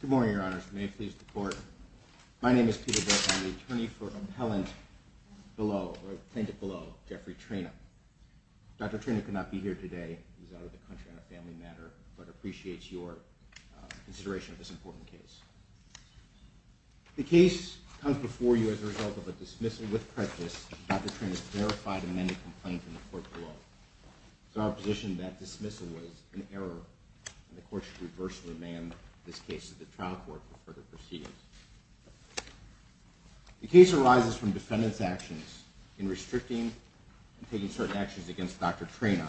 Good morning, Your Honors, and may it please the Court, my name is Peter Bitt, I'm the Attorney at Law for the District of Columbia, and I'm here today to speak on the case of Jeffrey Treina. Dr. Treina could not be here today, he's out of the country on a family matter, but appreciates your consideration of this important case. The case comes before you as a result of a dismissal with prejudice, and Dr. Treina's verified and amended complaint from the Court below. It's our position that dismissal was an error, and the Court should reverse the demand of this case to the trial court for further proceedings. The case arises from defendants' actions in restricting and taking certain actions against Dr. Treina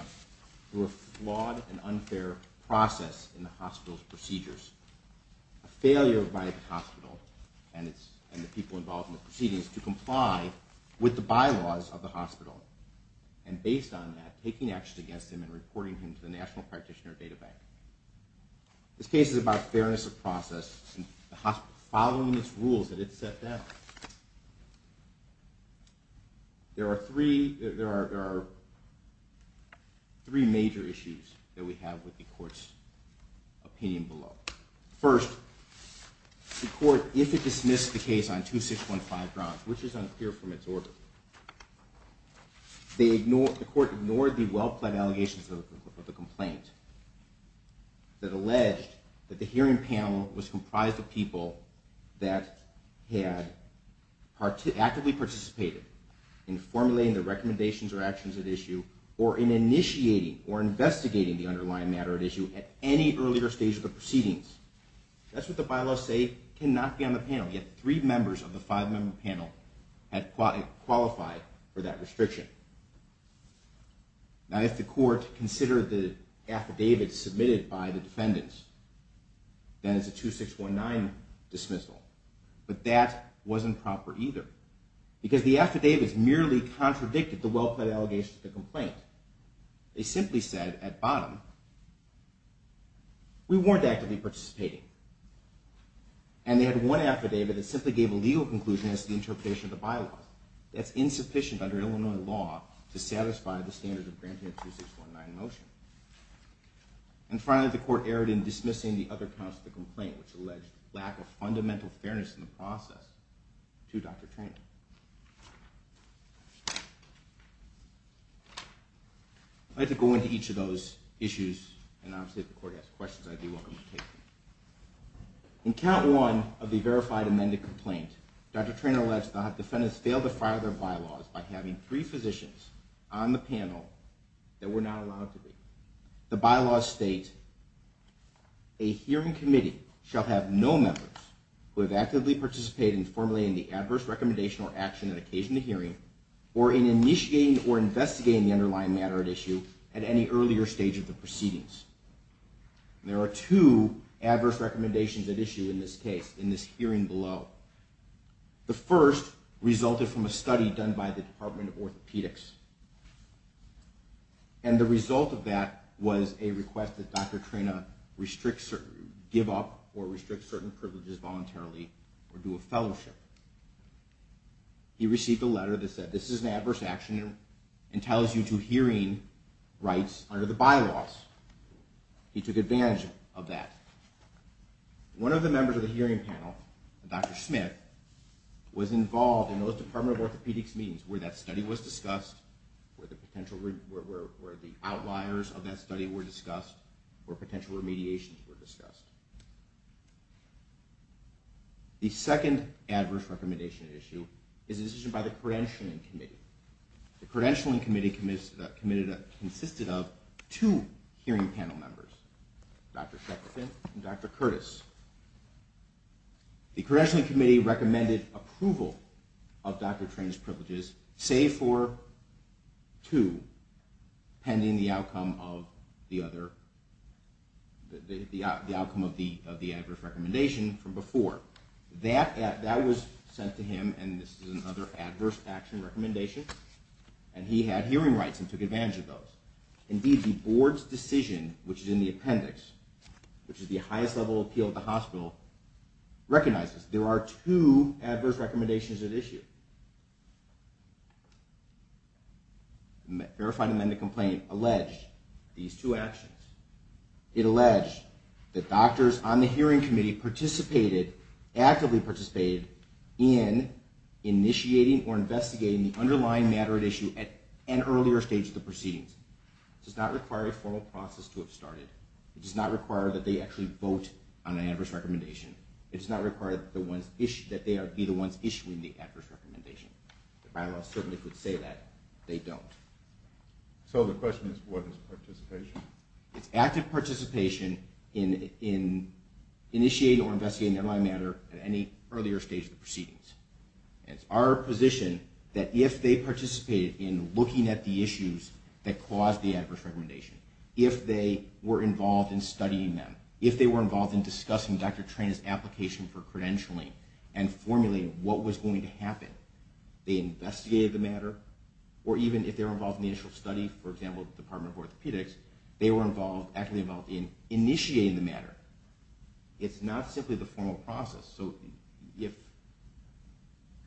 through a flawed and unfair process in the hospital's procedures, a failure by the hospital and the people involved in the proceedings to comply with the bylaws of the hospital, and based on that, taking action against him and reporting him to the National Practitioner Data Bank. This case is about fairness of process and the hospital following its rules that it set down. There are three major issues that we have with the Court's opinion below. First, the Court, if it dismissed the case on 2615 grounds, which is unclear from its order, the Court ignored the well-pled allegations of the complaint that alleged that the hearing panel was comprised of people that had actively participated in formulating the recommendations or actions at issue or in initiating or investigating the underlying matter at issue at any earlier stage of the proceedings. That's what the bylaws say cannot be on the panel, yet three members of the five-member panel had qualified for that restriction. Now, if the Court considered the affidavits submitted by the defendants, then it's a 2619 dismissal, but that wasn't proper either because the affidavits merely contradicted the well-pled allegations of the complaint. They simply said at bottom, we weren't actively participating, and they had one affidavit that simply gave a legal conclusion as to the interpretation of the bylaws. That's insufficient under Illinois law to satisfy the standards of granting a 2619 motion. And finally, the Court erred in dismissing the other counts of the complaint, which alleged lack of fundamental fairness in the process, to Dr. Treanor. I'd like to go into each of those issues, and obviously if the Court has questions, I'd be welcome to take them. In count one of the verified amended complaint, Dr. Treanor alleged the defendants failed to file their bylaws by having three physicians on the panel that were not allowed to be. The bylaws state, a hearing committee shall have no members who have actively participated in formulating the adverse recommendation or action at occasion of the hearing, or in initiating or investigating the underlying matter at issue at any earlier stage of the proceedings. There are two adverse recommendations at issue in this case, in this hearing below. The first resulted from a study done by the Department of Orthopedics, and the result of that was a request that Dr. Treanor give up or restrict certain privileges voluntarily or do a fellowship. He received a letter that said, this is an adverse action and tells you to hearing rights under the bylaws. He took advantage of that. One of the members of the hearing panel, Dr. Smith, was involved in those Department of Orthopedics meetings where that study was discussed, where the outliers of that study were discussed, where potential remediations were discussed. The second adverse recommendation at issue is a decision by the credentialing committee. The credentialing committee consisted of two hearing panel members, Dr. Shepard Smith and Dr. Curtis. The credentialing committee recommended approval of Dr. Treanor's privileges, save for two, pending the outcome of the adverse recommendation from before. That was sent to him, and this is another adverse action recommendation, and he had hearing rights and took advantage of those. Indeed, the board's decision, which is in the appendix, which is the highest level appeal of the hospital, recognizes there are two adverse recommendations at issue. The verified amended complaint alleged these two actions. It alleged that doctors on the hearing committee participated, actively participated, in initiating or investigating the underlying matter at issue at an earlier stage of the proceedings. It does not require a formal process to have started. It does not require that they actually vote on an adverse recommendation. It does not require that they be the ones issuing the adverse recommendation. The bylaws certainly could say that. They don't. So the question is, what is participation? It's active participation in initiating or investigating the underlying matter at any earlier stage of the proceedings. It's our position that if they participated in looking at the issues that caused the adverse recommendation, if they were involved in studying them, if they were involved in discussing Dr. Trena's application for credentialing and formulating what was going to happen, they investigated the matter, or even if they were involved in the initial study, for example, the Department of Orthopedics, they were involved, actively involved, in initiating the matter. It's not simply the formal process. So if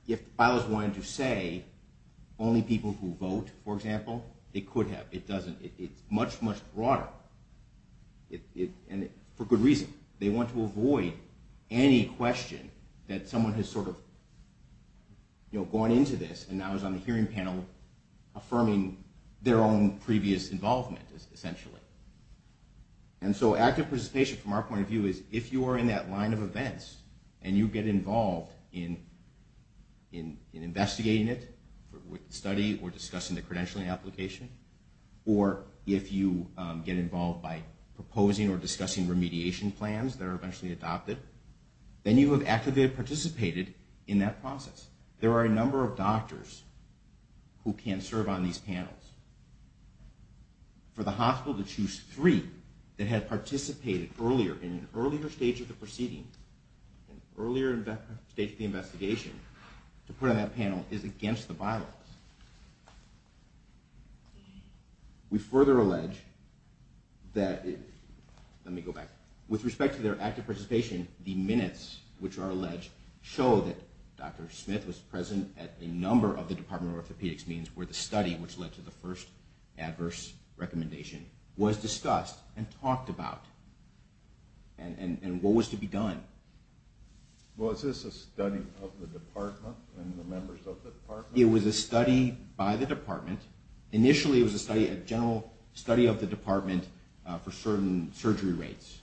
the bylaws wanted to say only people who vote, for example, it could have. It doesn't. It's much, much broader. And for good reason. They want to avoid any question that someone has sort of, you know, gone into this and now is on the hearing panel affirming their own previous involvement, essentially. And so active participation, from our point of view, is if you are in that line of events and you get involved in investigating it, with the study, or discussing the credentialing application, or if you get involved by proposing or discussing remediation plans that are eventually adopted, then you have actively participated in that process. There are a number of doctors who can serve on these panels. For the hospital to choose three that had participated earlier, in an earlier stage of the proceeding, an earlier stage of the investigation, to put on that panel is against the bylaws. We further allege that, let me go back, with respect to their active participation, the minutes which are alleged show that Dr. Smith was present at a number of the Department of Orthopedics meetings where the study which led to the first adverse recommendation was discussed and talked about. And what was to be done. Was this a study of the department and the members of the department? It was a study by the department. Initially it was a general study of the department for certain surgery rates.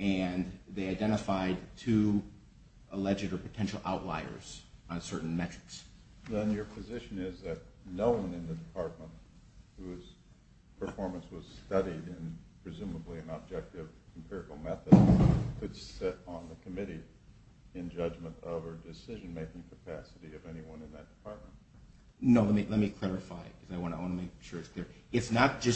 And they identified two alleged or potential outliers on certain metrics. Then your position is that no one in the department whose performance was studied in presumably an objective empirical method could sit on the committee in judgment of or decision-making capacity of anyone in that department? No, let me clarify, because I want to make sure it's clear. It's not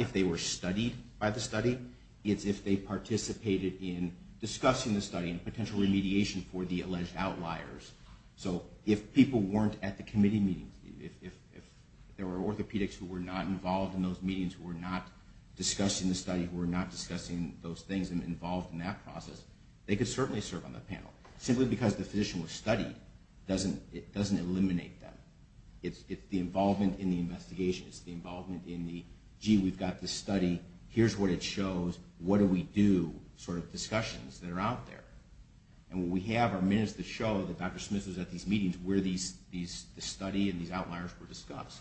if they were studied by the study, it's if they participated in discussing the study and potential remediation for the alleged outliers. So if people weren't at the committee meetings, if there were orthopedics who were not involved in those meetings, who were not discussing the study, who were not discussing those things and involved in that process, they could certainly serve on the panel. Simply because the physician was studied doesn't eliminate them. It's the involvement in the investigation. It's the involvement in the, gee, we've got this study, here's what it shows, what do we do, sort of discussions that are out there. And what we have are minutes that show that Dr. Smith was at these meetings where the study and these outliers were discussed.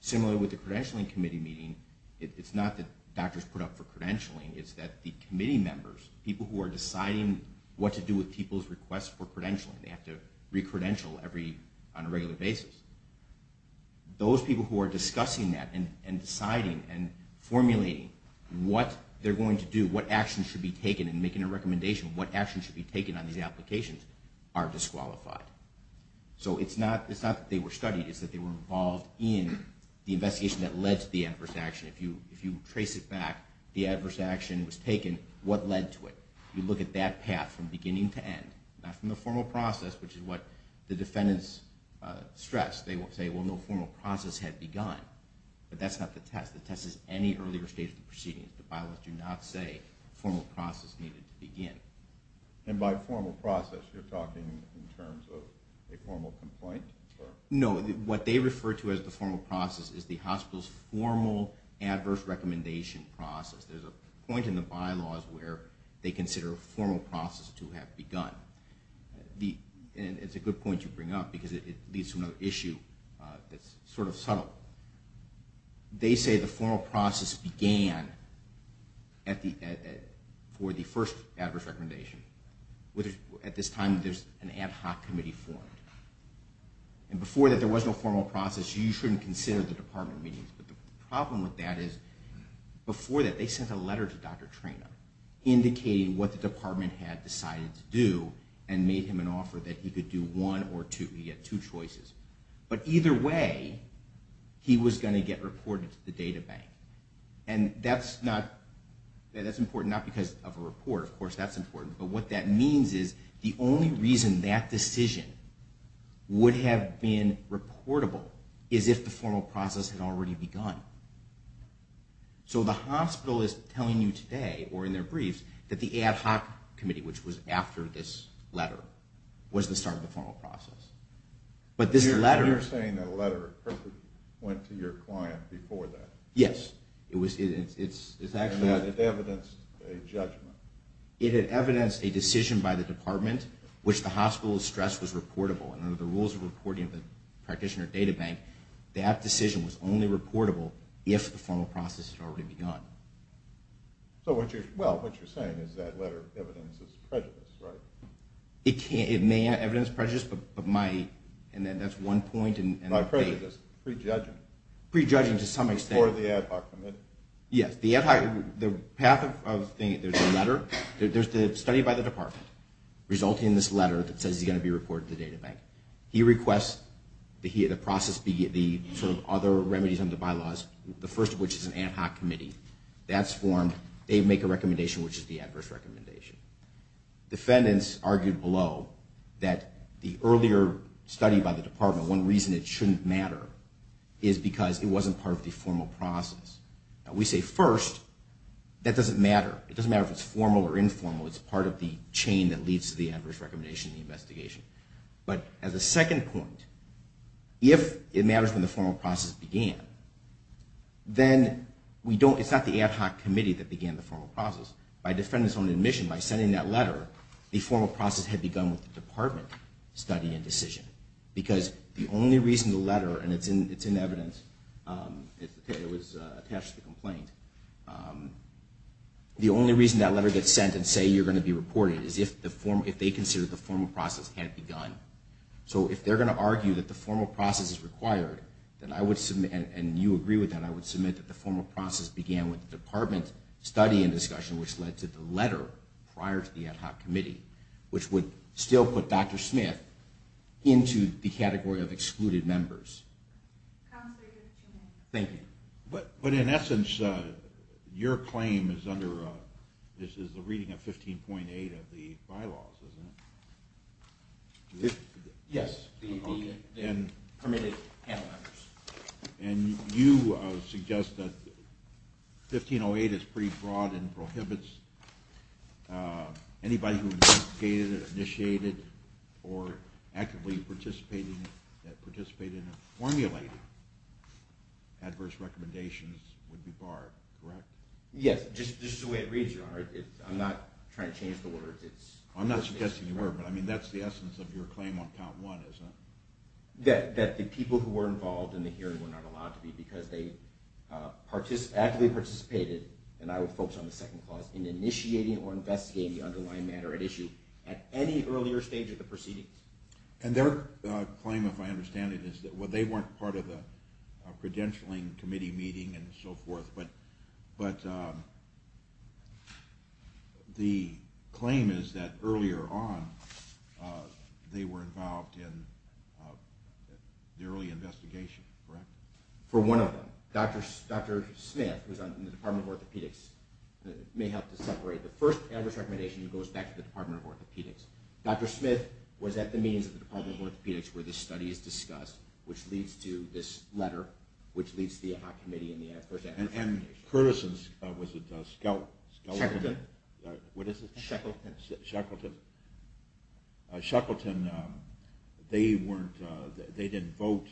Similarly with the credentialing committee meeting, it's not that doctors put up for credentialing, it's that the committee members, people who are deciding what to do with people's requests for credentialing, they have to recredential on a regular basis. Those people who are discussing that and deciding and formulating what they're going to do, and what actions should be taken in making a recommendation, what actions should be taken on these applications, are disqualified. So it's not that they were studied, it's that they were involved in the investigation that led to the adverse action. If you trace it back, the adverse action was taken, what led to it? You look at that path from beginning to end. Not from the formal process, which is what the defendants stress. They will say, well, no formal process had begun. But that's not the test. The test is any earlier stage of the proceedings. The bylaws do not say formal process needed to begin. And by formal process, you're talking in terms of a formal complaint? No. What they refer to as the formal process is the hospital's formal adverse recommendation process. There's a point in the bylaws where they consider a formal process to have begun. And it's a good point you bring up because it leads to another issue that's sort of subtle. They say the formal process began for the first adverse recommendation. At this time, there's an ad hoc committee formed. And before that, there was no formal process. You shouldn't consider the department meetings. But the problem with that is, before that, they sent a letter to Dr. Trena indicating what the department had decided to do and made him an offer that he could do one or two. He had two choices. But either way, he was going to get reported to the data bank. And that's important not because of a report. Of course, that's important. But what that means is the only reason that decision would have been reportable is if the formal process had already begun. So the hospital is telling you today, or in their briefs, that the ad hoc committee, which was after this letter, was the start of the formal process. You're saying that a letter went to your client before that. Yes. And that it evidenced a judgment. It had evidenced a decision by the department which the hospital's stress was reportable. And under the rules of reporting of the practitioner data bank, that decision was only reportable if the formal process had already begun. Well, what you're saying is that letter evidences prejudice, right? It may have evidenced prejudice, and that's one point. Not prejudice, pre-judgment. Pre-judgment to some extent. Before the ad hoc committee. Yes. The path of the letter, there's the study by the department resulting in this letter that says he's going to be reported to the data bank. He requests the process be the sort of other remedies under bylaws, the first of which is an ad hoc committee. That's formed. They make a recommendation, which is the adverse recommendation. Defendants argued below that the earlier study by the department, one reason it shouldn't matter is because it wasn't part of the formal process. We say, first, that doesn't matter. It doesn't matter if it's formal or informal. It's part of the chain that leads to the adverse recommendation in the investigation. But as a second point, if it matters when the formal process began, then it's not the ad hoc committee that began the formal process. By defendants' own admission, by sending that letter, the formal process had begun with the department study and decision. Because the only reason the letter, and it's in evidence, it was attached to the complaint, the only reason that letter gets sent and say you're going to be reported is if they consider the formal process had begun. So if they're going to argue that the formal process is required, and you agree with that, I would submit that the formal process began with the department study and discussion which led to the letter prior to the ad hoc committee, which would still put Dr. Smith into the category of excluded members. Thank you. But in essence, your claim is under the reading of 15.8 of the bylaws, isn't it? Yes. And you suggest that 1508 is pretty broad and prohibits anybody who investigated or initiated or actively participated in formulating adverse recommendations would be barred, correct? Yes, just the way it reads, Your Honor. I'm not trying to change the words. I'm not suggesting you were, but that's the essence of your claim on count one, isn't it? That the people who were involved in the hearing were not allowed to be because they actively participated, and I would focus on the second clause, in initiating or investigating the underlying matter at issue at any earlier stage of the proceedings. And their claim, if I understand it, is that they weren't part of the credentialing committee meeting and so forth, but the claim is that earlier on they were involved in the early investigation, correct? For one of them. Dr. Smith, who's in the Department of Orthopedics, may help to separate. The first adverse recommendation goes back to the Department of Orthopedics. Dr. Smith was at the meetings of the Department of Orthopedics where this study is discussed, which leads to this letter, which leads to the AHOP committee and the adverse recommendation. And Curtison, was it Skelton? Sheckleton. What is it? Sheckleton. Sheckleton. Sheckleton, they didn't vote,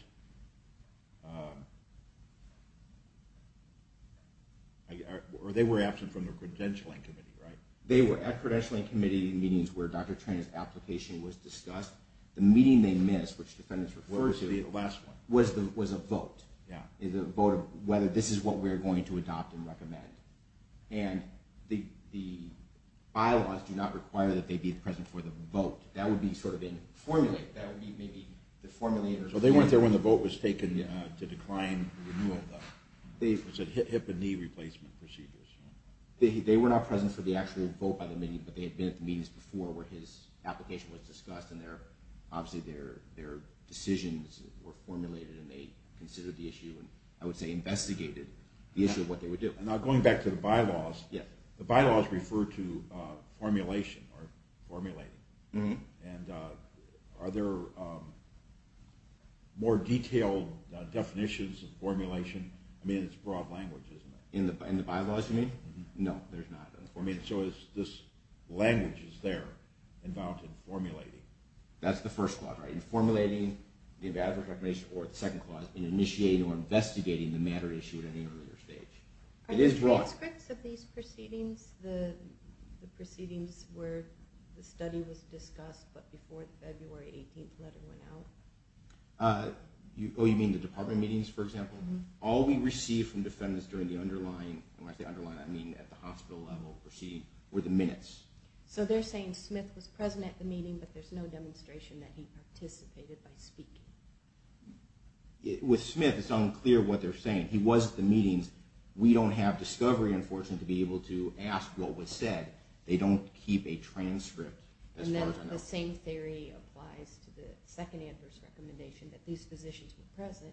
or they were absent from the credentialing committee, right? They were at credentialing committee meetings where Dr. Trainor's application was discussed. The meeting they missed, which the defendants referred to, was a vote, a vote of whether this is what we're going to adopt and recommend. And the bylaws do not require that they be present for the vote. That would be sort of in the formulator. They weren't there when the vote was taken to decline the renewal, though. It said hip and knee replacement procedures. They were not present for the actual vote by the meeting, their decisions were formulated and they considered the issue and I would say investigated the issue of what they would do. Now going back to the bylaws, the bylaws refer to formulation or formulating. And are there more detailed definitions of formulation? I mean, it's broad language, isn't it? In the bylaws, you mean? No, there's not. So this language is there involved in formulating. That's the first clause, right? In formulating the advantage of recognition or the second clause, in initiating or investigating the matter issued at any earlier stage. Are there transcripts of these proceedings, the proceedings where the study was discussed but before the February 18th letter went out? Oh, you mean the department meetings, for example? All we received from defendants during the underlying, I mean, at the hospital level proceedings were the minutes. So they're saying Smith was present at the meeting but there's no demonstration that he participated by speaking. With Smith, it's unclear what they're saying. He was at the meetings. We don't have discovery enforcement to be able to ask what was said. They don't keep a transcript as far as I know. And then the same theory applies to the second adverse recommendation that these physicians were present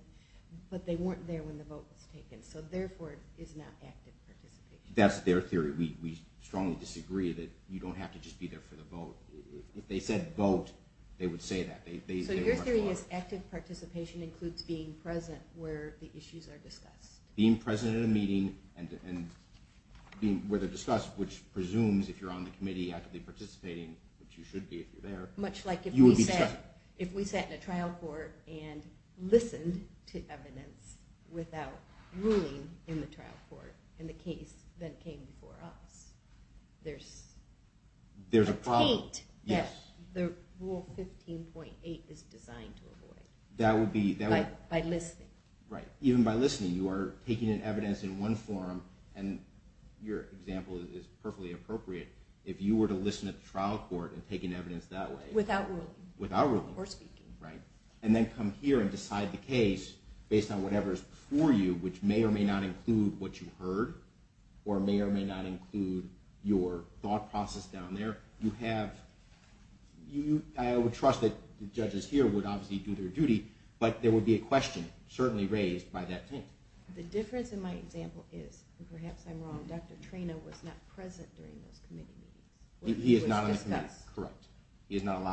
but they weren't there when the vote was taken. So therefore, it's not active participation. That's their theory. We strongly disagree that you don't have to just be there for the vote. If they said vote, they would say that. So your theory is active participation includes being present where the issues are discussed. Being present at a meeting where they're discussed, which presumes if you're on the committee actively participating, which you should be if you're there. Much like if we sat in a trial court and listened to evidence without ruling in the trial court in the case that came before us, there's a taint that Rule 15.8 is designed to avoid by listening. Right. Even by listening, you are taking in evidence in one form, and your example is perfectly appropriate. If you were to listen at the trial court and take in evidence that way. Without ruling. Without ruling. Or speaking. Right. And then come here and decide the case based on whatever is before you, which may or may not include what you heard, or may or may not include your thought process down there. I would trust that the judges here would obviously do their duty, but there would be a question certainly raised by that taint. The difference in my example is, and perhaps I'm wrong, Dr. Trena was not present during those committee meetings. He is not on the committee. He was discussed. Correct. He is not on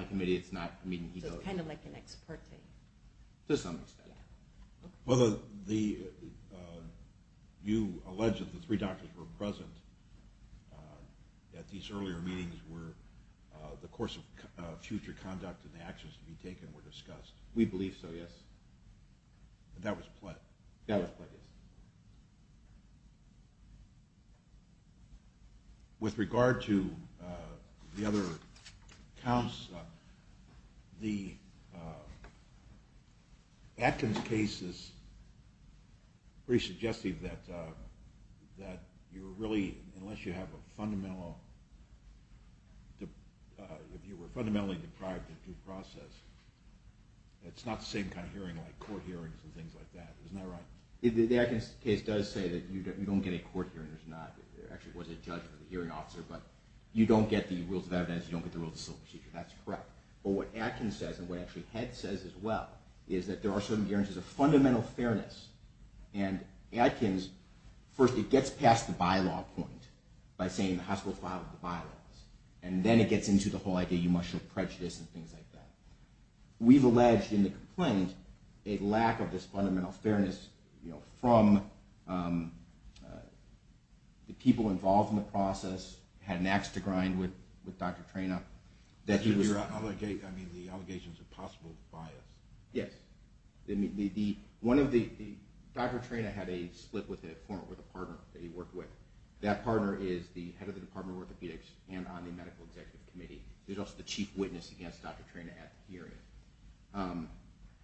the committee. So it's kind of like an ex parte. To some extent. Yeah. Well, you allege that the three doctors were present at these earlier meetings where the course of future conduct and the actions to be taken were discussed. We believe so, yes. That was pled. That was pled, yes. With regard to the other counts, the Atkins case is pretty suggestive that you really, unless you have a fundamental, if you were fundamentally deprived of due process, it's not the same kind of hearing like court hearings and things like that. Isn't that right? The Atkins case does say that you don't get a court hearing. There's not. There actually was a judge who was a hearing officer, but you don't get the rules of evidence. You don't get the rules of civil procedure. That's correct. But what Atkins says, and what actually Head says as well, is that there are certain guarantees of fundamental fairness. And Atkins, first, it gets past the bylaw point by saying the hospital filed the bylaws, and then it gets into the whole idea you must show prejudice and things like that. We've alleged in the complaint a lack of this fundamental fairness from the people involved in the process, had an ax to grind with Dr. Trena. I mean, the allegations of possible bias. Yes. Dr. Trena had a split with a former orthopedic partner that he worked with. That partner is the head of the Department of Orthopedics and on the Medical Executive Committee. He's also the chief witness against Dr. Trena at the hearing.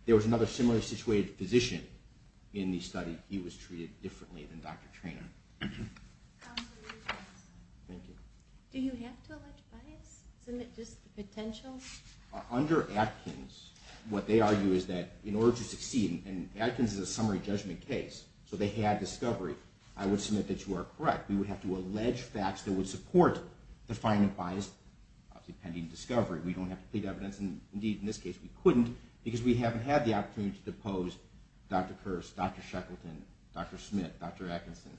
There was another similarly situated physician in the study. He was treated differently than Dr. Trena. Absolutely. Thank you. Do you have to allege bias? Isn't it just the potential? Under Atkins, what they argue is that in order to succeed, and Atkins is a summary judgment case, so they had discovery. I would submit that you are correct. We would have to allege facts that would support the finding of bias, obviously pending discovery. We don't have to plead evidence, and indeed in this case we couldn't, because we haven't had the opportunity to depose Dr. Kirst, Dr. Shackleton, Dr. Smith, Dr. Atkinson,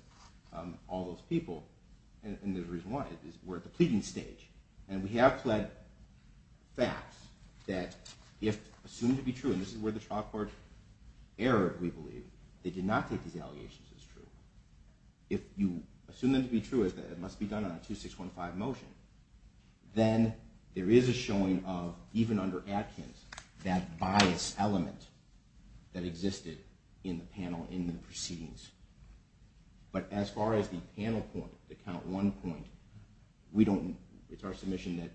all those people, and there's a reason why. We're at the pleading stage, and we have pled facts that if assumed to be true, and this is where the trial court erred, we believe. They did not take these allegations as true. If you assume them to be true, it must be done on a 2-6-1-5 motion, then there is a showing of, even under Atkins, that bias element that existed in the panel in the proceedings. But as far as the panel point, the count one point, it's our submission that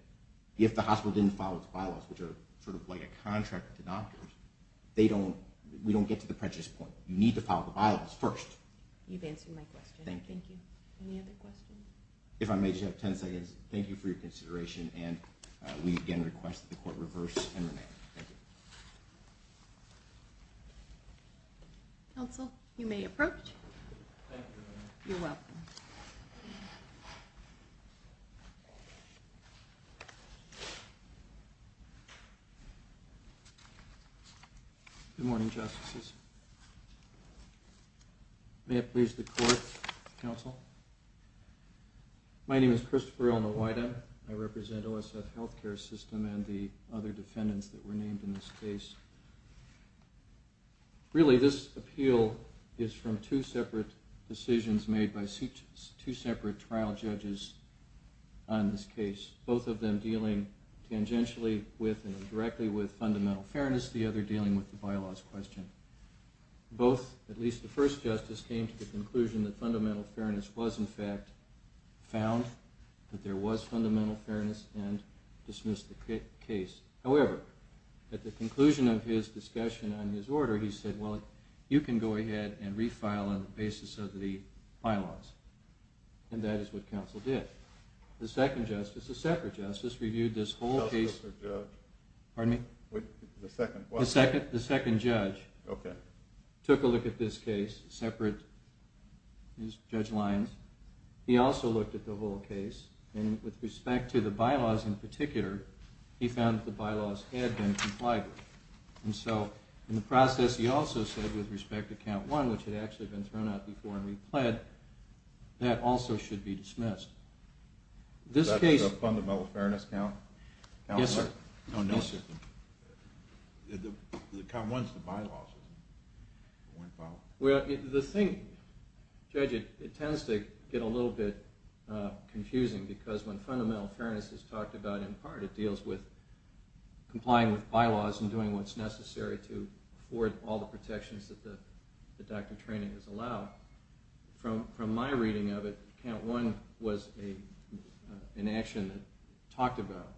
if the hospital didn't follow its bylaws, which are sort of like a contract with the doctors, we don't get to the prejudice point. You need to follow the bylaws first. You've answered my question. Thank you. Any other questions? If I may just have 10 seconds, thank you for your consideration, and we again request that the court reverse and remain. Thank you. Counsel, you may approach. Thank you. You're welcome. Thank you. Good morning, Justices. May it please the court, counsel. My name is Christopher Ilnawida. I represent OSF Health Care System and the other defendants that were named in this case. Really, this appeal is from two separate decisions made by two separate trial judges on this case, both of them dealing tangentially with and directly with fundamental fairness, the other dealing with the bylaws question. Both, at least the first justice, came to the conclusion that fundamental fairness was, in fact, found, that there was fundamental fairness, and dismissed the case. However, at the conclusion of his discussion on his order, he said, well, you can go ahead and refile on the basis of the bylaws, and that is what counsel did. The second justice, the separate justice, reviewed this whole case. Pardon me? The second. The second judge took a look at this case, separate judge lines. He also looked at the whole case, and with respect to the bylaws in particular, he found that the bylaws had been complied with. And so, in the process, he also said, with respect to count one, which had actually been thrown out before and repled, that also should be dismissed. Is that the fundamental fairness count? Yes, sir. Oh, no, sir. The count one's the bylaws. Well, the thing, Judge, it tends to get a little bit confusing, because when fundamental fairness is talked about in part, it deals with complying with bylaws and doing what's necessary to afford all the protections that the doctor training has allowed. From my reading of it, count one was an action that talked about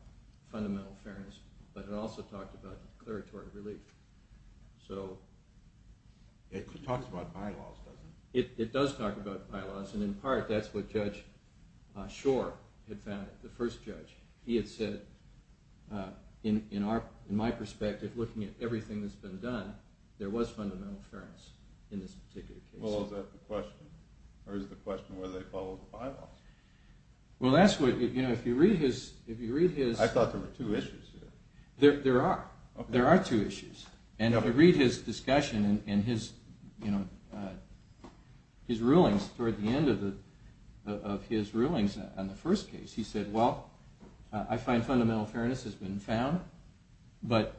fundamental fairness, but it also talked about declaratory relief. So... It talks about bylaws, doesn't it? It does talk about bylaws, and in part, that's what Judge Schor had found, the first judge. He had said, in my perspective, looking at everything that's been done, there was fundamental fairness in this particular case. Well, is that the question? Or is the question whether they follow the bylaws? Well, that's what, you know, if you read his... I thought there were two issues here. There are. There are two issues. And if you read his discussion and his, you know, his rulings, toward the end of his rulings on the first case, he said, well, I find fundamental fairness has been found, but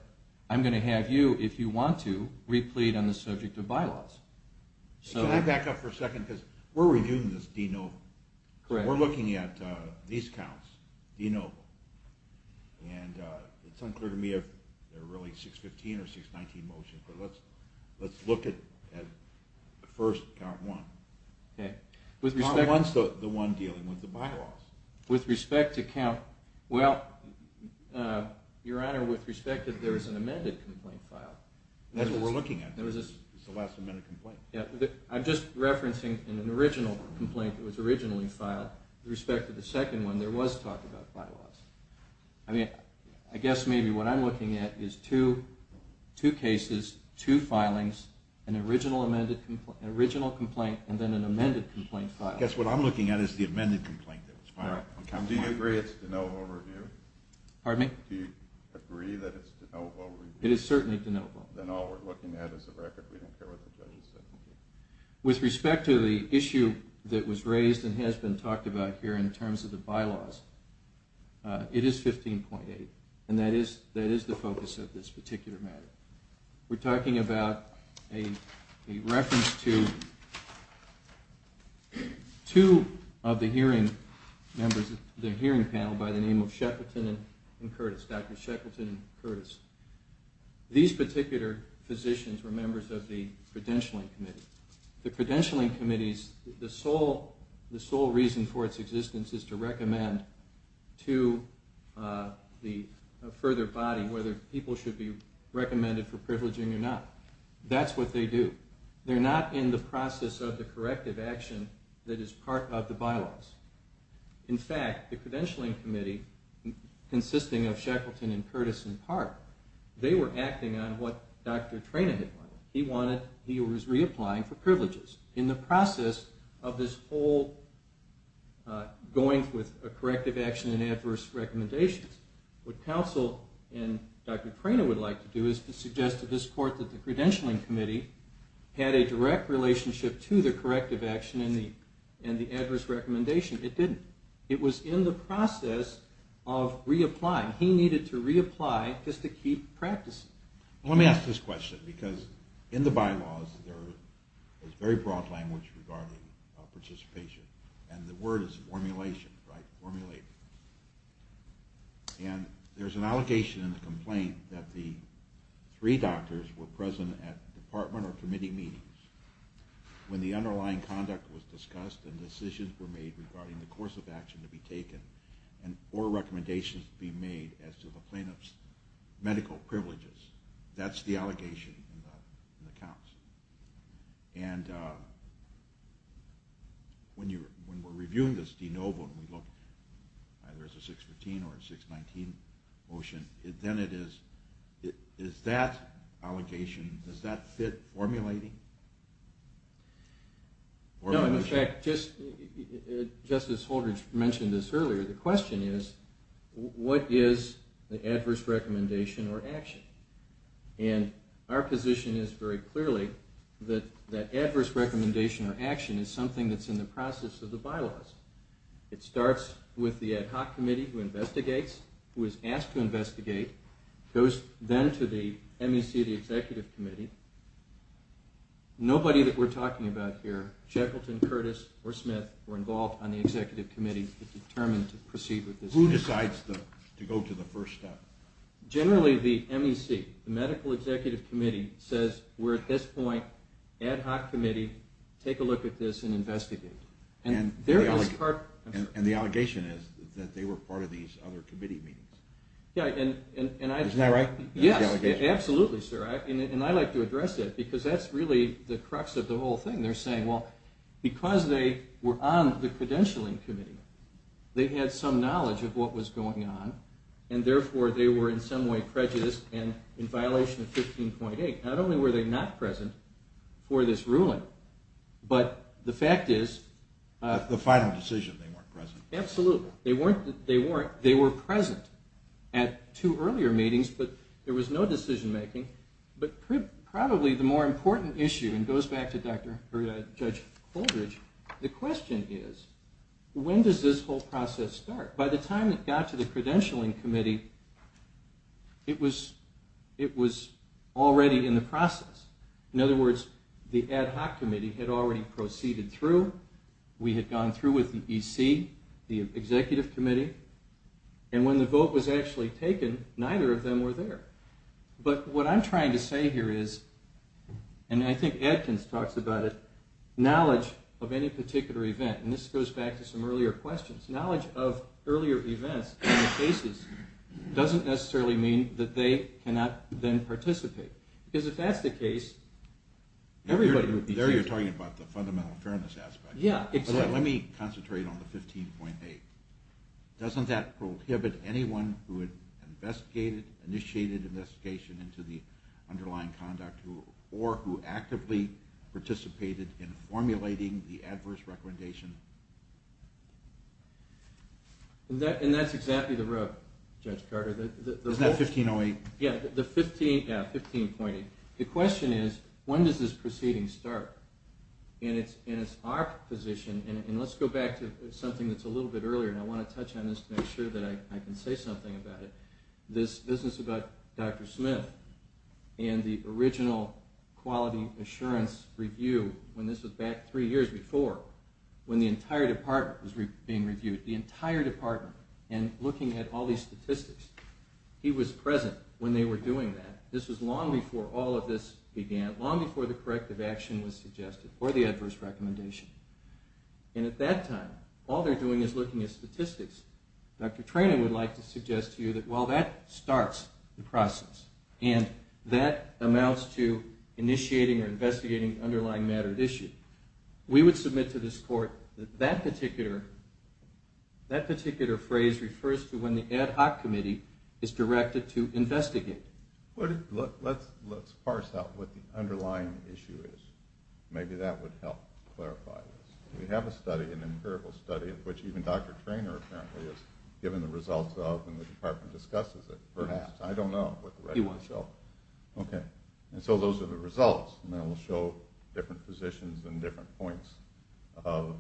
I'm going to have you, if you want to, replead on the subject of bylaws. So... Can I back up for a second? Because we're reviewing this de novo. Correct. We're looking at these counts, de novo. And it's unclear to me if they're really 615 or 619 motions, but let's look at first count one. Okay. Count one's the one dealing with the bylaws. With respect to count... Well, Your Honor, with respect, there is an amended complaint file. That's what we're looking at. It's the last amended complaint. I'm just referencing an original complaint that was originally filed. With respect to the second one, there was talk about bylaws. I mean, I guess maybe what I'm looking at is two cases, two filings, an original complaint, and then an amended complaint file. I guess what I'm looking at is the amended complaint that was filed. Do you agree it's de novo review? Pardon me? Do you agree that it's de novo review? It is certainly de novo. Then all we're looking at is the record. We don't care what the judge has said. With respect to the issue that was raised and has been talked about here in terms of the bylaws, it is 15.8. And that is the focus of this particular matter. We're talking about a reference to... two of the hearing members, the hearing panel by the name of Sheckleton and Curtis, Dr. Sheckleton and Curtis. These particular physicians were members of the credentialing committee. The credentialing committees, the sole reason for its existence is to recommend to the further body whether people should be recommended for privileging or not. That's what they do. They're not in the process of the corrective action that is part of the bylaws. In fact, the credentialing committee, consisting of Sheckleton and Curtis in part, they were acting on what Dr. Trena had wanted. He was reapplying for privileges. In the process of this whole going with a corrective action and adverse recommendations, what counsel and Dr. Trena would like to do is to suggest to this court that the credentialing committee had a direct relationship to the corrective action and the adverse recommendation. It didn't. It was in the process of reapplying. He needed to reapply just to keep practicing. Let me ask this question, because in the bylaws there is very broad language regarding participation, and the word is formulation, right? Formulation. And there's an allegation in the complaint that the three doctors were present at department or committee meetings when the underlying conduct was discussed and decisions were made regarding the course of action to be taken or recommendations to be made as to the plaintiff's medical privileges. That's the allegation in the counts. And when we're reviewing this de novo and we look, either it's a 615 or a 619 motion, then it is, is that allegation, does that fit formulating? No, in fact, just as Holder mentioned this earlier, the question is, what is the adverse recommendation or action? And our position is very clearly that the adverse recommendation or action is something that's in the process of the bylaws. It starts with the ad hoc committee who investigates, who is asked to investigate, goes then to the MEC, the executive committee. Nobody that we're talking about here, Shackleton, Curtis, or Smith, were involved on the executive committee that determined to proceed with this. Who decides to go to the first step? Generally, the MEC, the medical executive committee, says we're at this point, ad hoc committee, take a look at this and investigate. And the allegation is that they were part of these other committee meetings. Isn't that right? Yes, absolutely, sir. And I like to address that because that's really the crux of the whole thing. They're saying, well, because they were on the credentialing committee, they had some knowledge of what was going on, and therefore they were in some way prejudiced and in violation of 15.8. Not only were they not present for this ruling, but the fact is... The final decision they weren't present. Absolutely. They were present at two earlier meetings, but there was no decision making. But probably the more important issue, and it goes back to Judge Holdridge, the question is, when does this whole process start? By the time it got to the credentialing committee, it was already in the process. In other words, the ad hoc committee had already proceeded through. We had gone through with the EC, the executive committee, and when the vote was actually taken, neither of them were there. But what I'm trying to say here is, and I think Adkins talks about it, knowledge of any particular event, and this goes back to some earlier questions, knowledge of earlier events and the cases doesn't necessarily mean that they cannot then participate. Because if that's the case, everybody would be... There you're talking about the fundamental fairness aspect. Yeah, exactly. Let me concentrate on the 15.8. Doesn't that prohibit anyone who initiated investigation into the underlying conduct or who actively participated in formulating the adverse recommendation? And that's exactly the rub, Judge Carter. Isn't that 15.08? Yeah, 15.8. The question is, when does this proceeding start? And it's our position, and let's go back to something that's a little bit earlier, and I want to touch on this to make sure that I can say something about it. This business about Dr. Smith and the original quality assurance review, when this was back three years before, when the entire department was being reviewed, the entire department, and looking at all these statistics, he was present when they were doing that. This was long before all of this began, long before the corrective action was suggested or the adverse recommendation. And at that time, all they're doing is looking at statistics. Dr. Trena would like to suggest to you that while that starts the process and that amounts to initiating or investigating underlying matter at issue, we would submit to this court that that particular phrase refers to when the ad hoc committee is directed to investigate. Let's parse out what the underlying issue is. Maybe that would help clarify this. We have a study, an empirical study, which even Dr. Trena apparently has given the results of and the department discusses it, perhaps. I don't know. He won't. Okay. And so those are the results, and then we'll show different positions and different points of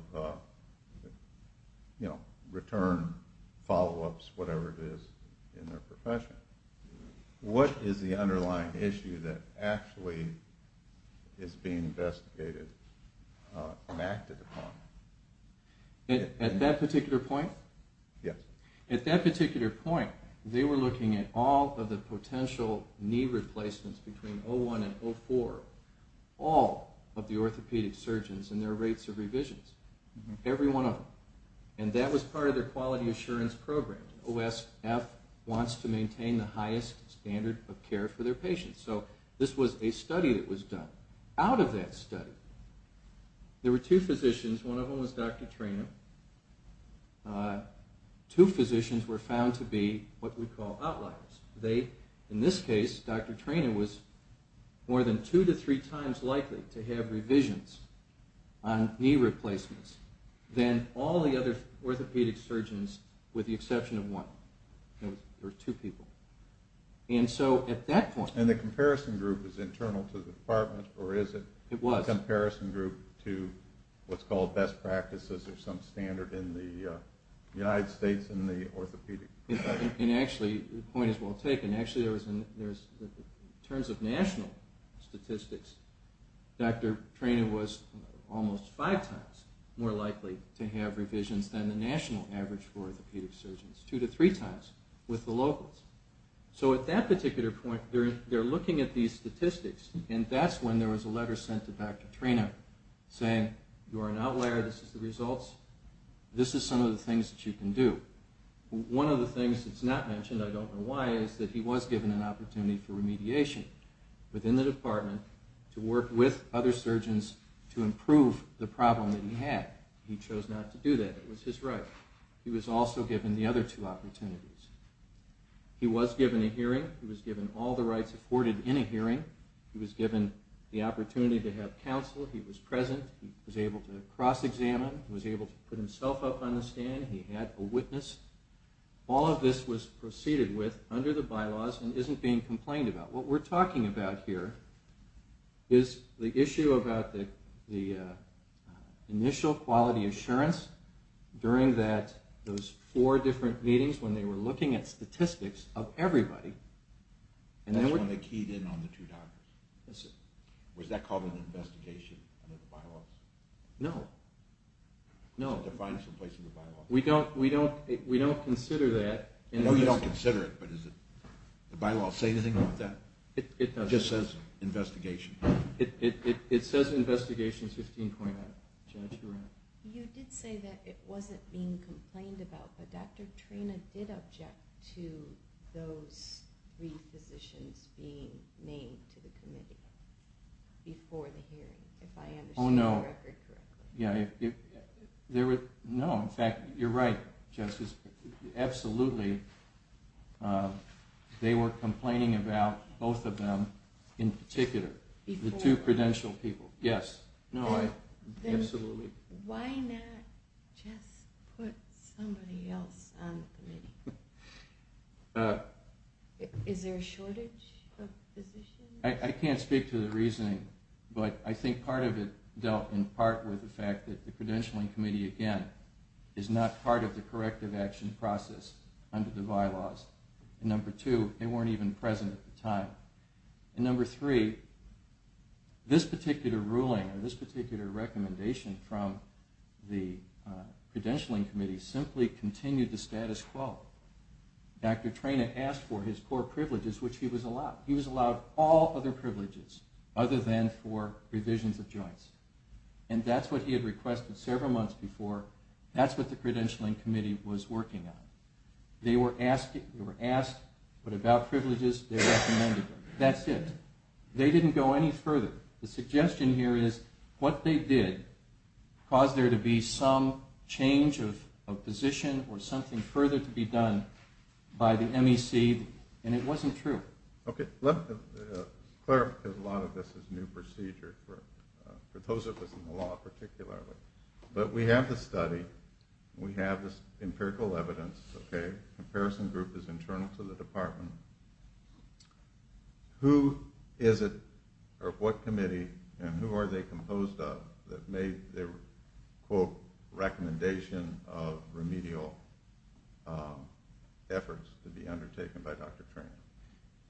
return, follow-ups, whatever it is in their profession. What is the underlying issue that actually is being investigated and acted upon? At that particular point? Yes. At that particular point, they were looking at all of the potential knee replacements between 01 and 04, all of the orthopedic surgeons and their rates of revisions, every one of them. And that was part of their quality assurance program. OSF wants to maintain the highest standard of care for their patients. So this was a study that was done. Out of that study, there were two physicians. One of them was Dr. Trena. Two physicians were found to be what we call outliers. In this case, Dr. Trena was more than two to three times likely to have revisions on knee replacements than all the other orthopedic surgeons with the exception of one. There were two people. And so at that point... And the comparison group is internal to the department, or is it? It was. A comparison group to what's called best practices or some standard in the United States in the orthopedic department. And actually, the point is well taken. Actually, in terms of national statistics, Dr. Trena was almost five times more likely to have revisions than the national average for orthopedic surgeons, two to three times with the locals. So at that particular point, they're looking at these statistics, and that's when there was a letter sent to Dr. Trena saying, You are an outlier. This is the results. This is some of the things that you can do. One of the things that's not mentioned, I don't know why, is that he was given an opportunity for remediation within the department to work with other surgeons to improve the problem that he had. He chose not to do that. It was his right. He was also given the other two opportunities. He was given a hearing. He was given all the rights afforded in a hearing. He was given the opportunity to have counsel. He was present. He was able to cross-examine. He was able to put himself up on the stand. He had a witness. All of this was proceeded with under the bylaws and isn't being complained about. What we're talking about here is the issue about the initial quality assurance during those four different meetings when they were looking at statistics of everybody. That's when they keyed in on the two doctors. Yes, sir. Was that called an investigation under the bylaws? No. No. Was it defined someplace in the bylaws? We don't consider that. No, you don't consider it, but does the bylaws say anything about that? It doesn't. It just says investigation. It says investigation 15.9. Judge, you're on. You did say that it wasn't being complained about, but Dr. Trena did object to those three physicians being named to the committee before the hearing, if I understand the record correctly. Oh, no. No, in fact, you're right, Justice. Absolutely they were complaining about both of them in particular, the two credential people. Yes. No, absolutely. Then why not just put somebody else on the committee? Is there a shortage of physicians? I can't speak to the reasoning, but I think part of it dealt in part with the fact that the credentialing committee, again, is not part of the corrective action process under the bylaws. And number two, they weren't even present at the time. And number three, this particular ruling or this particular recommendation from the credentialing committee simply continued the status quo. Dr. Trena asked for his core privileges, which he was allowed. And that's what he had requested several months before. That's what the credentialing committee was working on. They were asked, but about privileges, they recommended them. That's it. They didn't go any further. The suggestion here is what they did caused there to be some change of position or something further to be done by the MEC, and it wasn't true. Okay. Let's clarify, because a lot of this is new procedure for those of us in the law particularly. But we have the study. We have the empirical evidence. Okay. Comparison group is internal to the department. Who is it, or what committee, and who are they composed of, that made the, quote, recommendation of remedial efforts to be undertaken by Dr. Trena?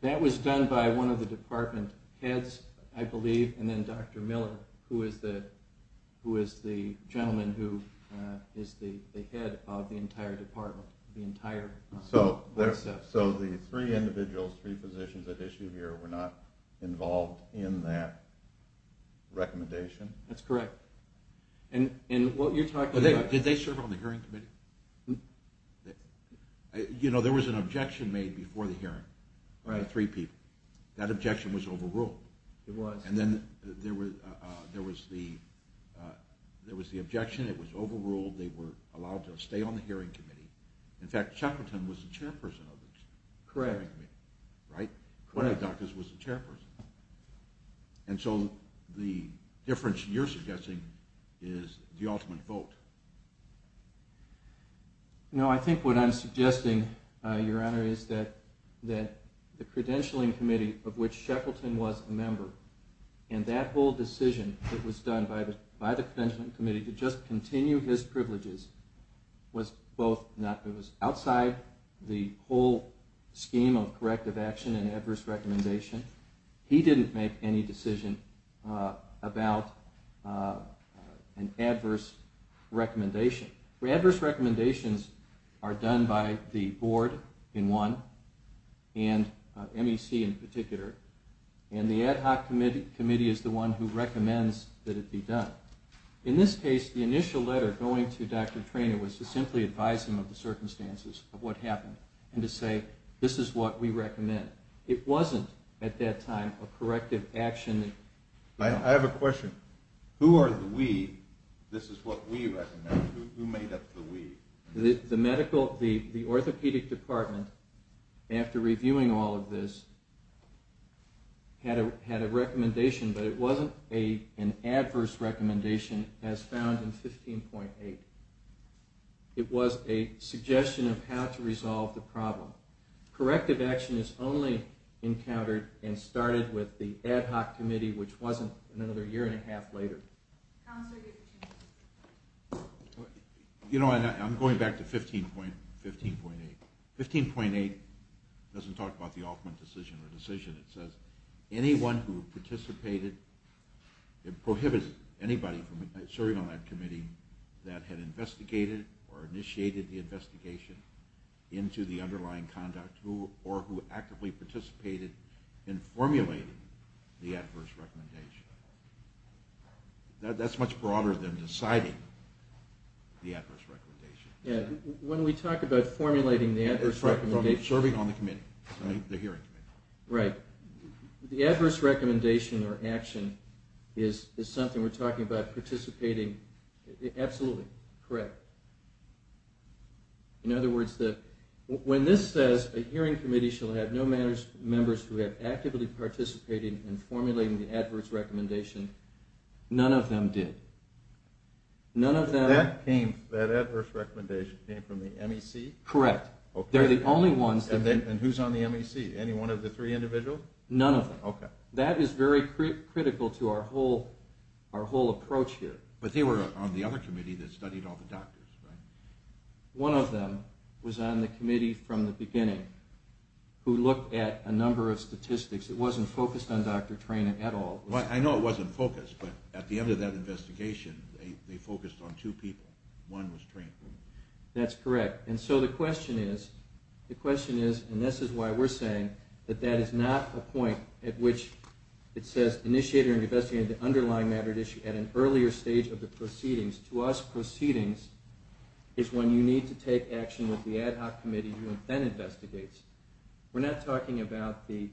That was done by one of the department heads, I believe, and then Dr. Miller, who is the gentleman who is the head of the entire department, the entire OSF. So the three individuals, three positions at issue here, were not involved in that recommendation? That's correct. And what you're talking about... Did they serve on the hearing committee? No. You know, there was an objection made before the hearing by three people. That objection was overruled. It was. And then there was the objection. It was overruled. They were allowed to stay on the hearing committee. In fact, Shackleton was the chairperson of the hearing committee. Right? One of the doctors was the chairperson. And so the difference you're suggesting is the ultimate vote. No, I think what I'm suggesting, Your Honor, is that the credentialing committee of which Shackleton was a member and that whole decision that was done by the credentialing committee to just continue his privileges was both not good. It was outside the whole scheme of corrective action and adverse recommendation. He didn't make any decision about an adverse recommendation. Adverse recommendations are done by the board in one, and MEC in particular. And the ad hoc committee is the one who recommends that it be done. In this case, the initial letter going to Dr. Trena was to simply advise him of the circumstances of what happened and to say this is what we recommend. It wasn't at that time a corrective action. I have a question. Who are the we? This is what we recommend. Who made up the we? The orthopedic department, after reviewing all of this, had a recommendation, but it wasn't an adverse recommendation as found in 15.8. It was a suggestion of how to resolve the problem. Corrective action is only encountered and started with the ad hoc committee, which wasn't another year and a half later. You know, I'm going back to 15.8. 15.8 doesn't talk about the ultimate decision or decision. It prohibits anybody from serving on that committee that had investigated or initiated the investigation into the underlying conduct or who actively participated in formulating the adverse recommendation. That's much broader than deciding the adverse recommendation. When we talk about formulating the adverse recommendation... The adverse recommendation or action is something we're talking about participating... Absolutely correct. In other words, when this says, a hearing committee shall have no members who have actively participated in formulating the adverse recommendation, none of them did. None of them... That adverse recommendation came from the MEC? Correct. They're the only ones... And who's on the MEC? Any one of the three individuals? None of them. Okay. That is very critical to our whole approach here. But they were on the other committee that studied all the doctors, right? One of them was on the committee from the beginning who looked at a number of statistics. It wasn't focused on Dr. Trena at all. I know it wasn't focused, but at the end of that investigation, they focused on two people. One was Trena. That's correct. And so the question is, and this is why we're saying, that that is not a point at which it says, initiate or investigate the underlying matter at issue at an earlier stage of the proceedings. To us, proceedings is when you need to take action with the ad hoc committee who then investigates. We're not talking about the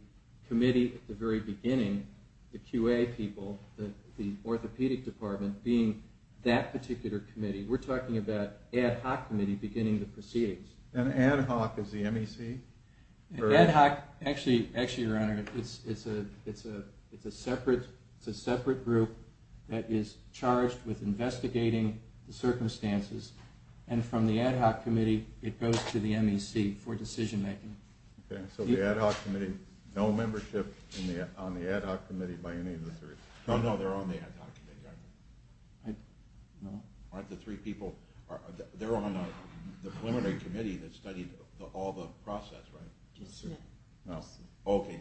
committee at the very beginning, the QA people, the orthopedic department, being that particular committee. We're talking about ad hoc committee beginning the proceedings. And ad hoc is the MEC? Ad hoc, actually, Your Honor, it's a separate group that is charged with investigating the circumstances. And from the ad hoc committee, it goes to the MEC for decision making. Okay. So the ad hoc committee, no membership on the ad hoc committee by any of the three. No, no, they're on the ad hoc committee, aren't they? No. Aren't the three people, they're on the preliminary committee that studied all the process, right? Yes, sir. No. Okay.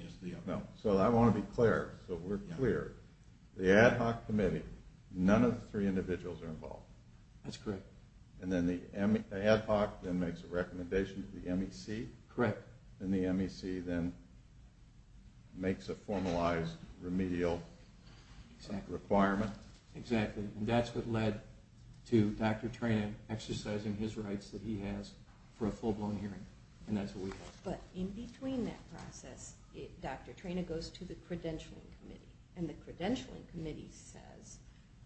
So I want to be clear, so we're clear. The ad hoc committee, none of the three individuals are involved. That's correct. And then the ad hoc then makes a recommendation to the MEC? Correct. And the MEC then makes a formalized remedial requirement? Exactly. And that's what led to Dr. Trena exercising his rights that he has for a full-blown hearing, and that's what we have. But in between that process, Dr. Trena goes to the credentialing committee, and the credentialing committee says,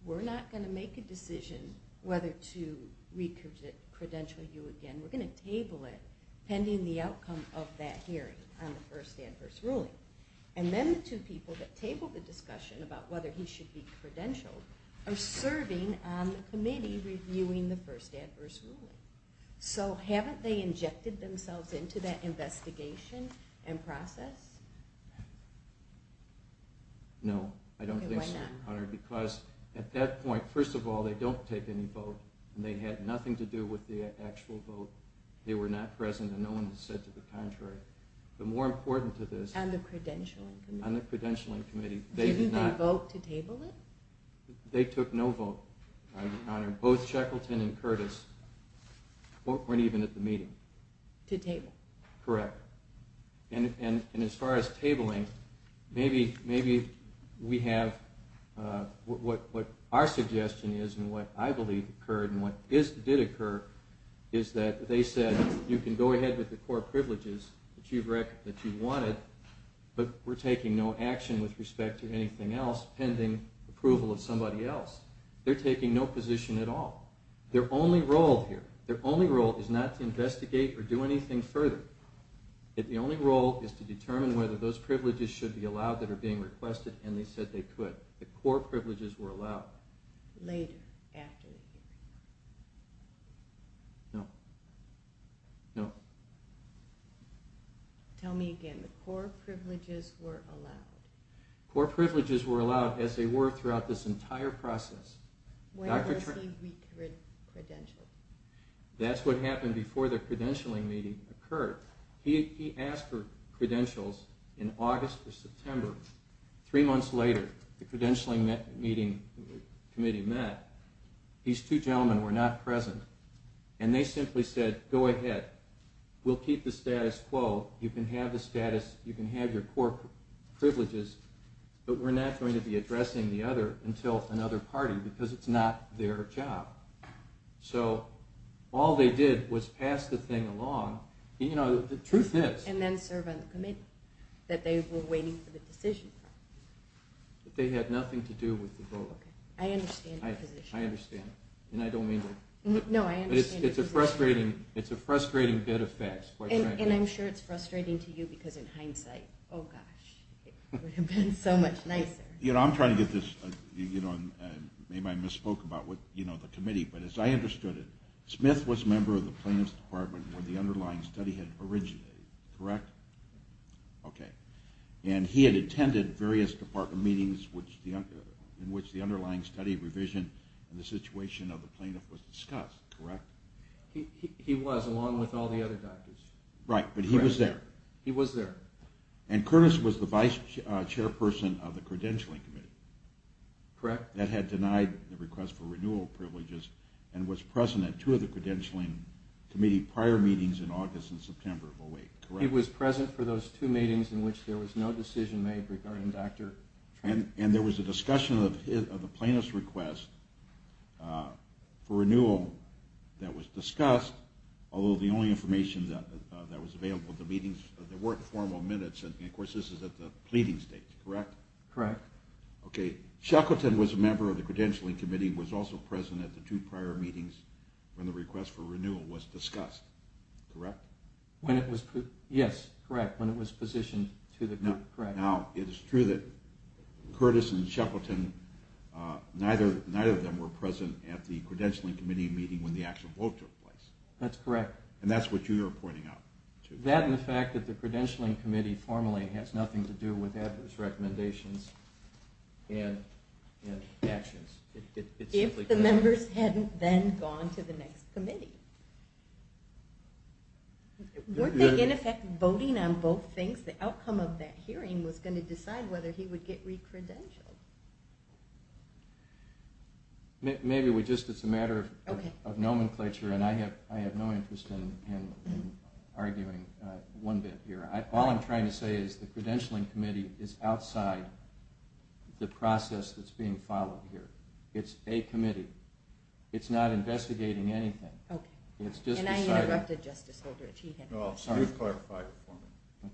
we're not going to make a decision whether to re-credential you again. We're going to table it pending the outcome of that hearing on the first and first ruling. And then the two people that table the discussion about whether he should be credentialed are serving on the committee reviewing the first adverse ruling. So haven't they injected themselves into that investigation and process? No. I don't think so, Your Honor, because at that point, first of all, they don't take any vote, and they had nothing to do with the actual vote. They were not present, and no one has said to the contrary. But more important to this, on the credentialing committee, they did not. Didn't they vote to table it? They took no vote, Your Honor. Both Shackleton and Curtis weren't even at the meeting. To table. Correct. And as far as tabling, maybe we have what our suggestion is and what I believe occurred and what did occur is that they said, you can go ahead with the core privileges that you wanted, but we're taking no action with respect to anything else pending approval of somebody else. They're taking no position at all. Their only role here, their only role is not to investigate or do anything further. The only role is to determine whether those privileges should be allowed that are being requested, and they said they could. The core privileges were allowed. Later, after the hearing. No. No. Tell me again. The core privileges were allowed. Core privileges were allowed, as they were throughout this entire process. When was he credentialed? That's what happened before the credentialing meeting occurred. He asked for credentials in August or September. Three months later, the credentialing meeting committee met. These two gentlemen were not present, and they simply said, go ahead. We'll keep the status quo. You can have the status, you can have your core privileges, but we're not going to be addressing the other until another party because it's not their job. So all they did was pass the thing along. The truth is. And then serve on the committee that they were waiting for the decision. They had nothing to do with the vote. I understand your position. I understand, and I don't mean to. No, I understand your position. It's a frustrating bit of facts. And I'm sure it's frustrating to you because in hindsight, oh gosh, it would have been so much nicer. I'm trying to get this. Maybe I misspoke about the committee, but as I understood it, Smith was a member of the plaintiff's department where the underlying study had originated, correct? Okay. And he had attended various department meetings in which the underlying study revision and the situation of the plaintiff was discussed, correct? He was, along with all the other doctors. Right, but he was there. He was there. And Curtis was the vice chairperson of the credentialing committee. Correct. That had denied the request for renewal privileges and was present at two of the credentialing committee prior meetings in August and September of 08, correct? He was present for those two meetings in which there was no decision made regarding Dr. Tremblay. And there was a discussion of the plaintiff's request for renewal that was discussed, although the only information that was available at the meetings, there weren't formal minutes, and of course this is at the pleading stage, correct? Correct. Shackleton was a member of the credentialing committee and was also present at the two prior meetings when the request for renewal was discussed, correct? Yes, correct, when it was positioned to the committee. Now, it is true that Curtis and Shackleton, neither of them were present at the credentialing committee meeting when the actual vote took place. That's correct. And that's what you're pointing out. That and the fact that the credentialing committee formally has nothing to do with that, its recommendations and actions. If the members hadn't then gone to the next committee. Weren't they in effect voting on both things? The outcome of that hearing was going to decide whether he would get re-credentialed. Maybe it's just a matter of nomenclature, and I have no interest in arguing one bit here. All I'm trying to say is the credentialing committee is outside the process that's being followed here. It's a committee. It's not investigating anything. And I interrupted Justice Aldrich. You've clarified it for me.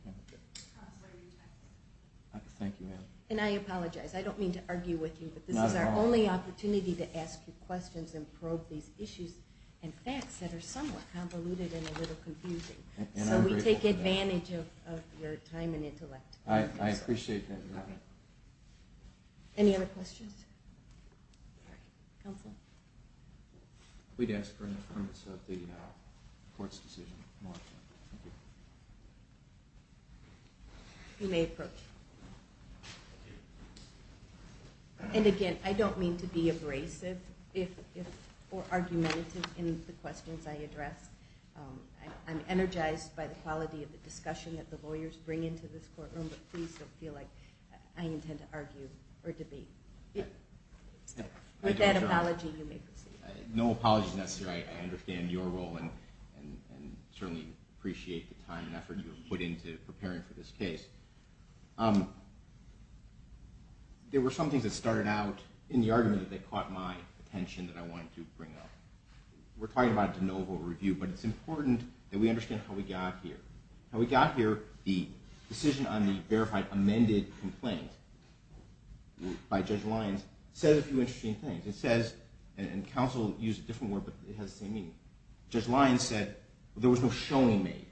And I apologize. I don't mean to argue with you, but this is our only opportunity to ask you questions and probe these issues and facts that are somewhat convoluted and a little confusing. So we take advantage of your time and intellect. I appreciate that. Any other questions? Counsel? We'd ask for any comments of the court's decision. You may approach. And again, I don't mean to be abrasive or argumentative in the questions I address. I'm energized by the quality of the discussion that the lawyers bring into this courtroom, but please don't feel like I intend to argue or debate. With that apology, you may proceed. No apologies necessary. I understand your role and certainly appreciate the time and effort you have put into preparing for this case. There were some things that started out in the argument that caught my attention that I wanted to bring up. We're talking about a de novo review, but it's important that we understand how we got here. How we got here, the decision on the verified amended complaint by Judge Lyons says a few interesting things. It says, and counsel used a different word, but it has the same meaning. Judge Lyons said there was no showing made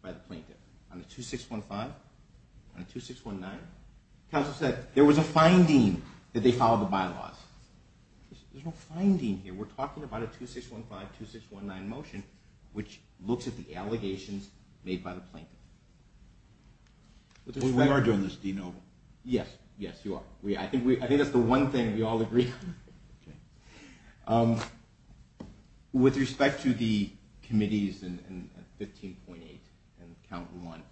by the plaintiff. On the 2615, on the 2619, counsel said there was a finding that they followed the bylaws. There's no finding here. We're talking about a 2615, 2619 motion which looks at the allegations made by the plaintiff. We are doing this de novo. Yes, yes, you are. I think that's the one thing we all agree on. With respect to the committees in 15.8 and count one,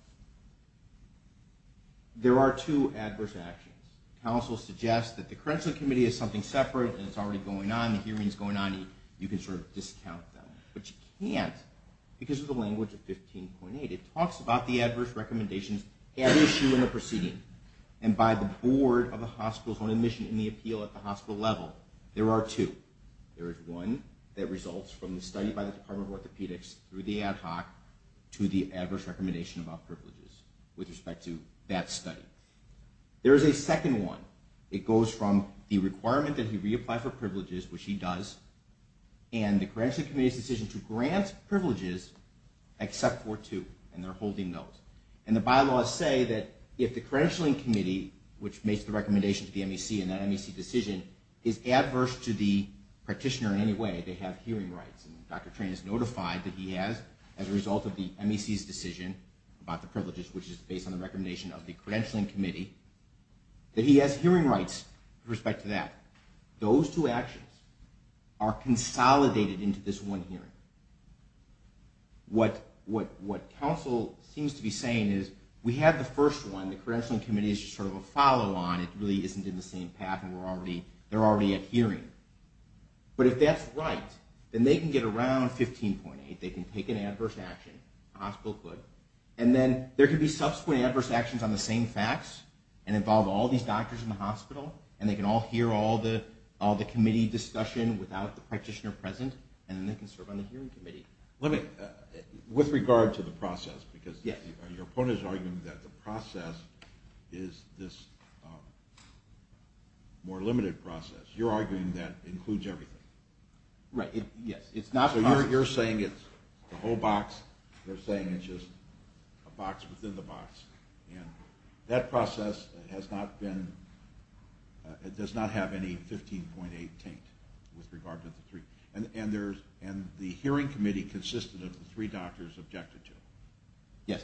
there are two adverse actions. Counsel suggests that the credential committee is something separate and it's already going on, the hearing's going on, you can sort of discount them, but you can't because of the language of 15.8. It talks about the adverse recommendations at issue in the proceeding, and by the board of the hospital's own admission in the appeal at the hospital level. There are two. There is one that results from the study by the Department of Orthopedics through the ad hoc to the adverse recommendation about privileges with respect to that study. There is a second one. It goes from the requirement that he reapply for privileges, which he does, and the credential committee's decision to grant privileges except for two, and they're holding those. And the bylaws say that if the credentialing committee, which makes the recommendation to the MEC and that MEC decision, is adverse to the practitioner in any way, they have hearing rights. And Dr. Train has notified that he has, as a result of the MEC's decision about the privileges, which is based on the recommendation of the credentialing committee, that he has hearing rights with respect to that. Those two actions are consolidated into this one hearing. What counsel seems to be saying is, we have the first one. The credentialing committee is just sort of a follow-on. It really isn't in the same path, and they're already at hearing. But if that's right, then they can get around 15.8. They can take an adverse action. The hospital could. And then there could be subsequent adverse actions on the same facts and involve all these doctors in the hospital, and they can all hear all the committee discussion without the practitioner present, and then they can serve on the hearing committee. Let me, with regard to the process, because your opponent is arguing that the process is this more limited process. You're arguing that includes everything. Right, yes. So you're saying it's the whole box. They're saying it's just a box within the box. And that process has not been, it does not have any 15.8 taint with regard to the three. And the hearing committee consisted of the three doctors objected to. Yes.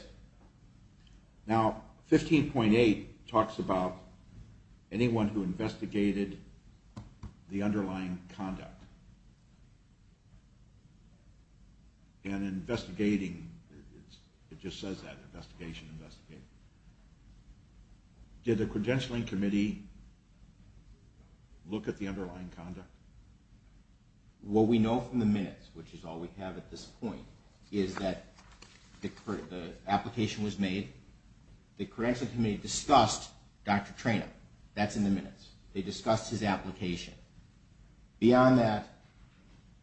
Now, 15.8 talks about anyone who investigated the underlying conduct. And investigating, it just says that, investigation, investigation. Did the credentialing committee look at the underlying conduct? What we know from the minutes, which is all we have at this point, is that the application was made. The credentialing committee discussed Dr. Traynham. That's in the minutes. They discussed his application. Beyond that,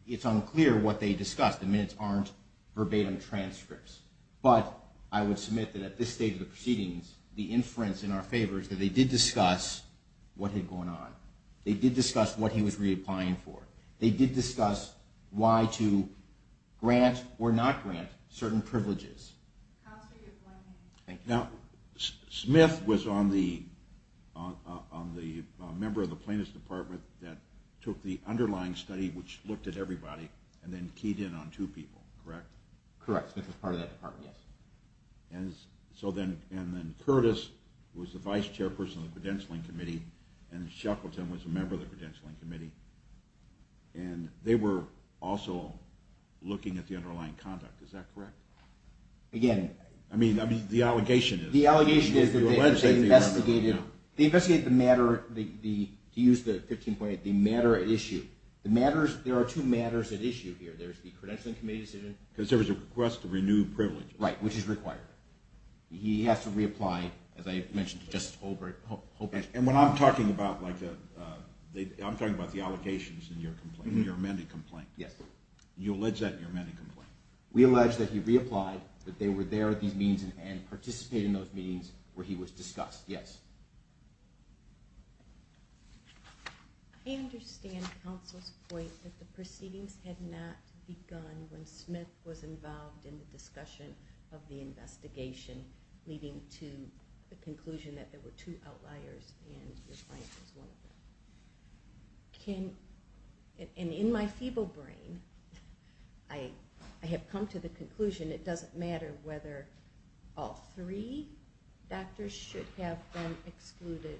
it's unclear what they discussed. The minutes aren't verbatim transcripts. But I would submit that at this stage of the proceedings, the inference in our favor is that they did discuss what had gone on. They did discuss what he was reapplying for. They did discuss why to grant or not grant certain privileges. Now, Smith was on the member of the plaintiff's department that took the underlying study, which looked at everybody, and then keyed in on two people, correct? Correct. Smith was part of that department. Yes. And then Curtis was the vice chairperson of the credentialing committee. And Shackleton was a member of the credentialing committee. And they were also looking at the underlying conduct. Is that correct? Again... I mean, the allegation is... The allegation is that they investigated the matter, to use the 15-point, the matter at issue. There are two matters at issue here. There's the credentialing committee decision... Because there was a request to renew privileges. Right, which is required. He has to reapply, as I mentioned to Justice Holbrook. And what I'm talking about... I'm talking about the allegations in your complaint, in your amended complaint. Yes. You allege that in your amended complaint. We allege that he reapplied, that they were there at these meetings and participated in those meetings where he was discussed. Yes. I understand counsel's point that the proceedings had not begun when Smith was involved in the discussion of the investigation, leading to the conclusion that there were two outliers and your client was one of them. And in my feeble brain, I have come to the conclusion it doesn't matter whether all three doctors should have been excluded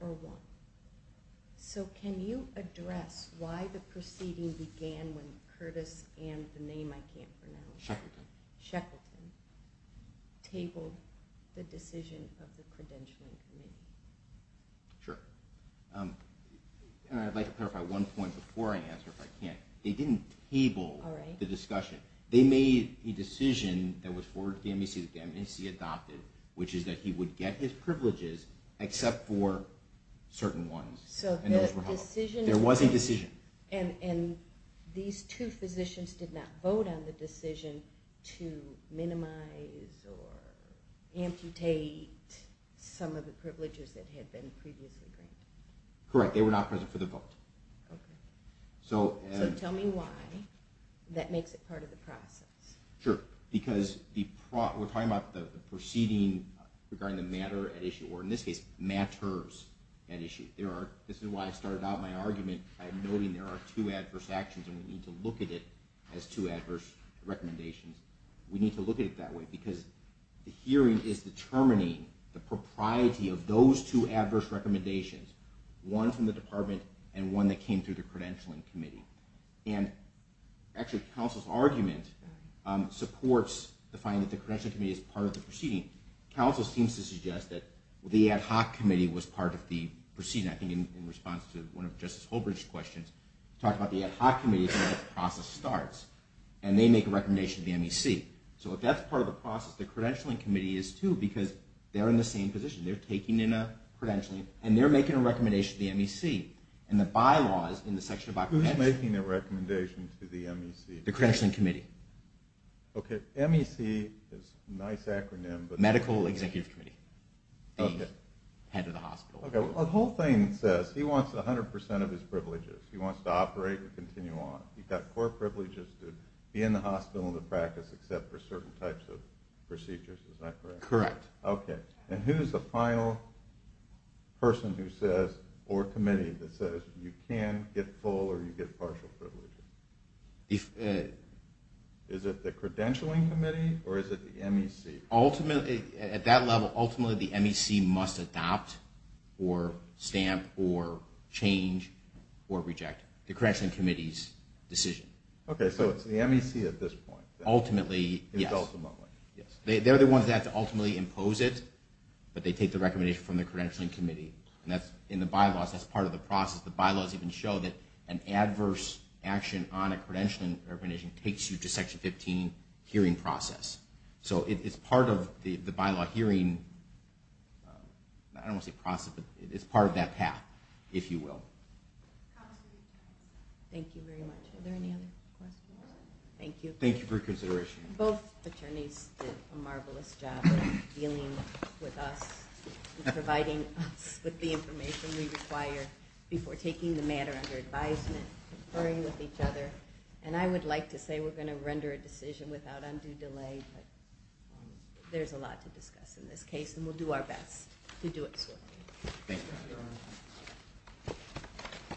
or one. So can you address why the proceeding began when Curtis and the name I can't pronounce... Shackleton. Shackleton tabled the decision of the credentialing committee? Sure. And I'd like to clarify one point before I answer if I can. They didn't table the discussion. They made a decision that was forwarded to the MNC that the MNC adopted, which is that he would get his privileges except for certain ones. So the decision... There was a decision. And these two physicians did not vote on the decision to minimize or amputate some of the privileges that had been previously granted. Correct. They were not present for the vote. Okay. So tell me why that makes it part of the process. Sure. Because we're talking about the proceeding regarding the matter at issue, or in this case, matters at issue. This is why I started out my argument by noting there are two adverse actions and we need to look at it as two adverse recommendations. We need to look at it that way because the hearing is determining the propriety of those two adverse recommendations, one from the department and one that came through the credentialing committee. And actually, counsel's argument supports the finding that the credentialing committee is part of the proceeding. Counsel seems to suggest that the ad hoc committee was part of the proceeding. I think in response to one of Justice Holbridge's questions, he talked about the ad hoc committee is where the process starts and they make a recommendation to the MEC. So if that's part of the process, the credentialing committee is too because they're in the same position. They're taking in a credentialing and they're making a recommendation to the MEC. And the bylaws in the section about credentialing... Who's making the recommendation to the MEC? The credentialing committee. Okay. MEC is a nice acronym, but... Medical Executive Committee. Okay. The head of the hospital. Okay. The whole thing says he wants 100% of his privileges. He wants to operate and continue on. He's got core privileges to be in the hospital and the practice except for certain types of procedures. Is that correct? Correct. Okay. And who's the final person who says, or committee, that says you can get full or you get partial privileges? Is it the credentialing committee or is it the MEC? Ultimately, at that level, ultimately the MEC must adopt or stamp or change or reject the credentialing committee's decision. Okay. So it's the MEC at this point. Ultimately, yes. They're the ones that ultimately impose it, but they take the recommendation from the credentialing committee. And in the bylaws, that's part of the process. The bylaws even show that an adverse action on a credentialing recommendation takes you to Section 15 hearing process. So it's part of the bylaw hearing, I don't want to say process, but it's part of that path, if you will. Thank you very much. Are there any other questions? Thank you. Thank you for your consideration. Both attorneys did a marvelous job of dealing with us and providing us with the information we require before taking the matter under advisement, conferring with each other. And I would like to say we're going to render a decision without undue delay, but there's a lot to discuss in this case, and we'll do our best to do it swiftly. Thank you.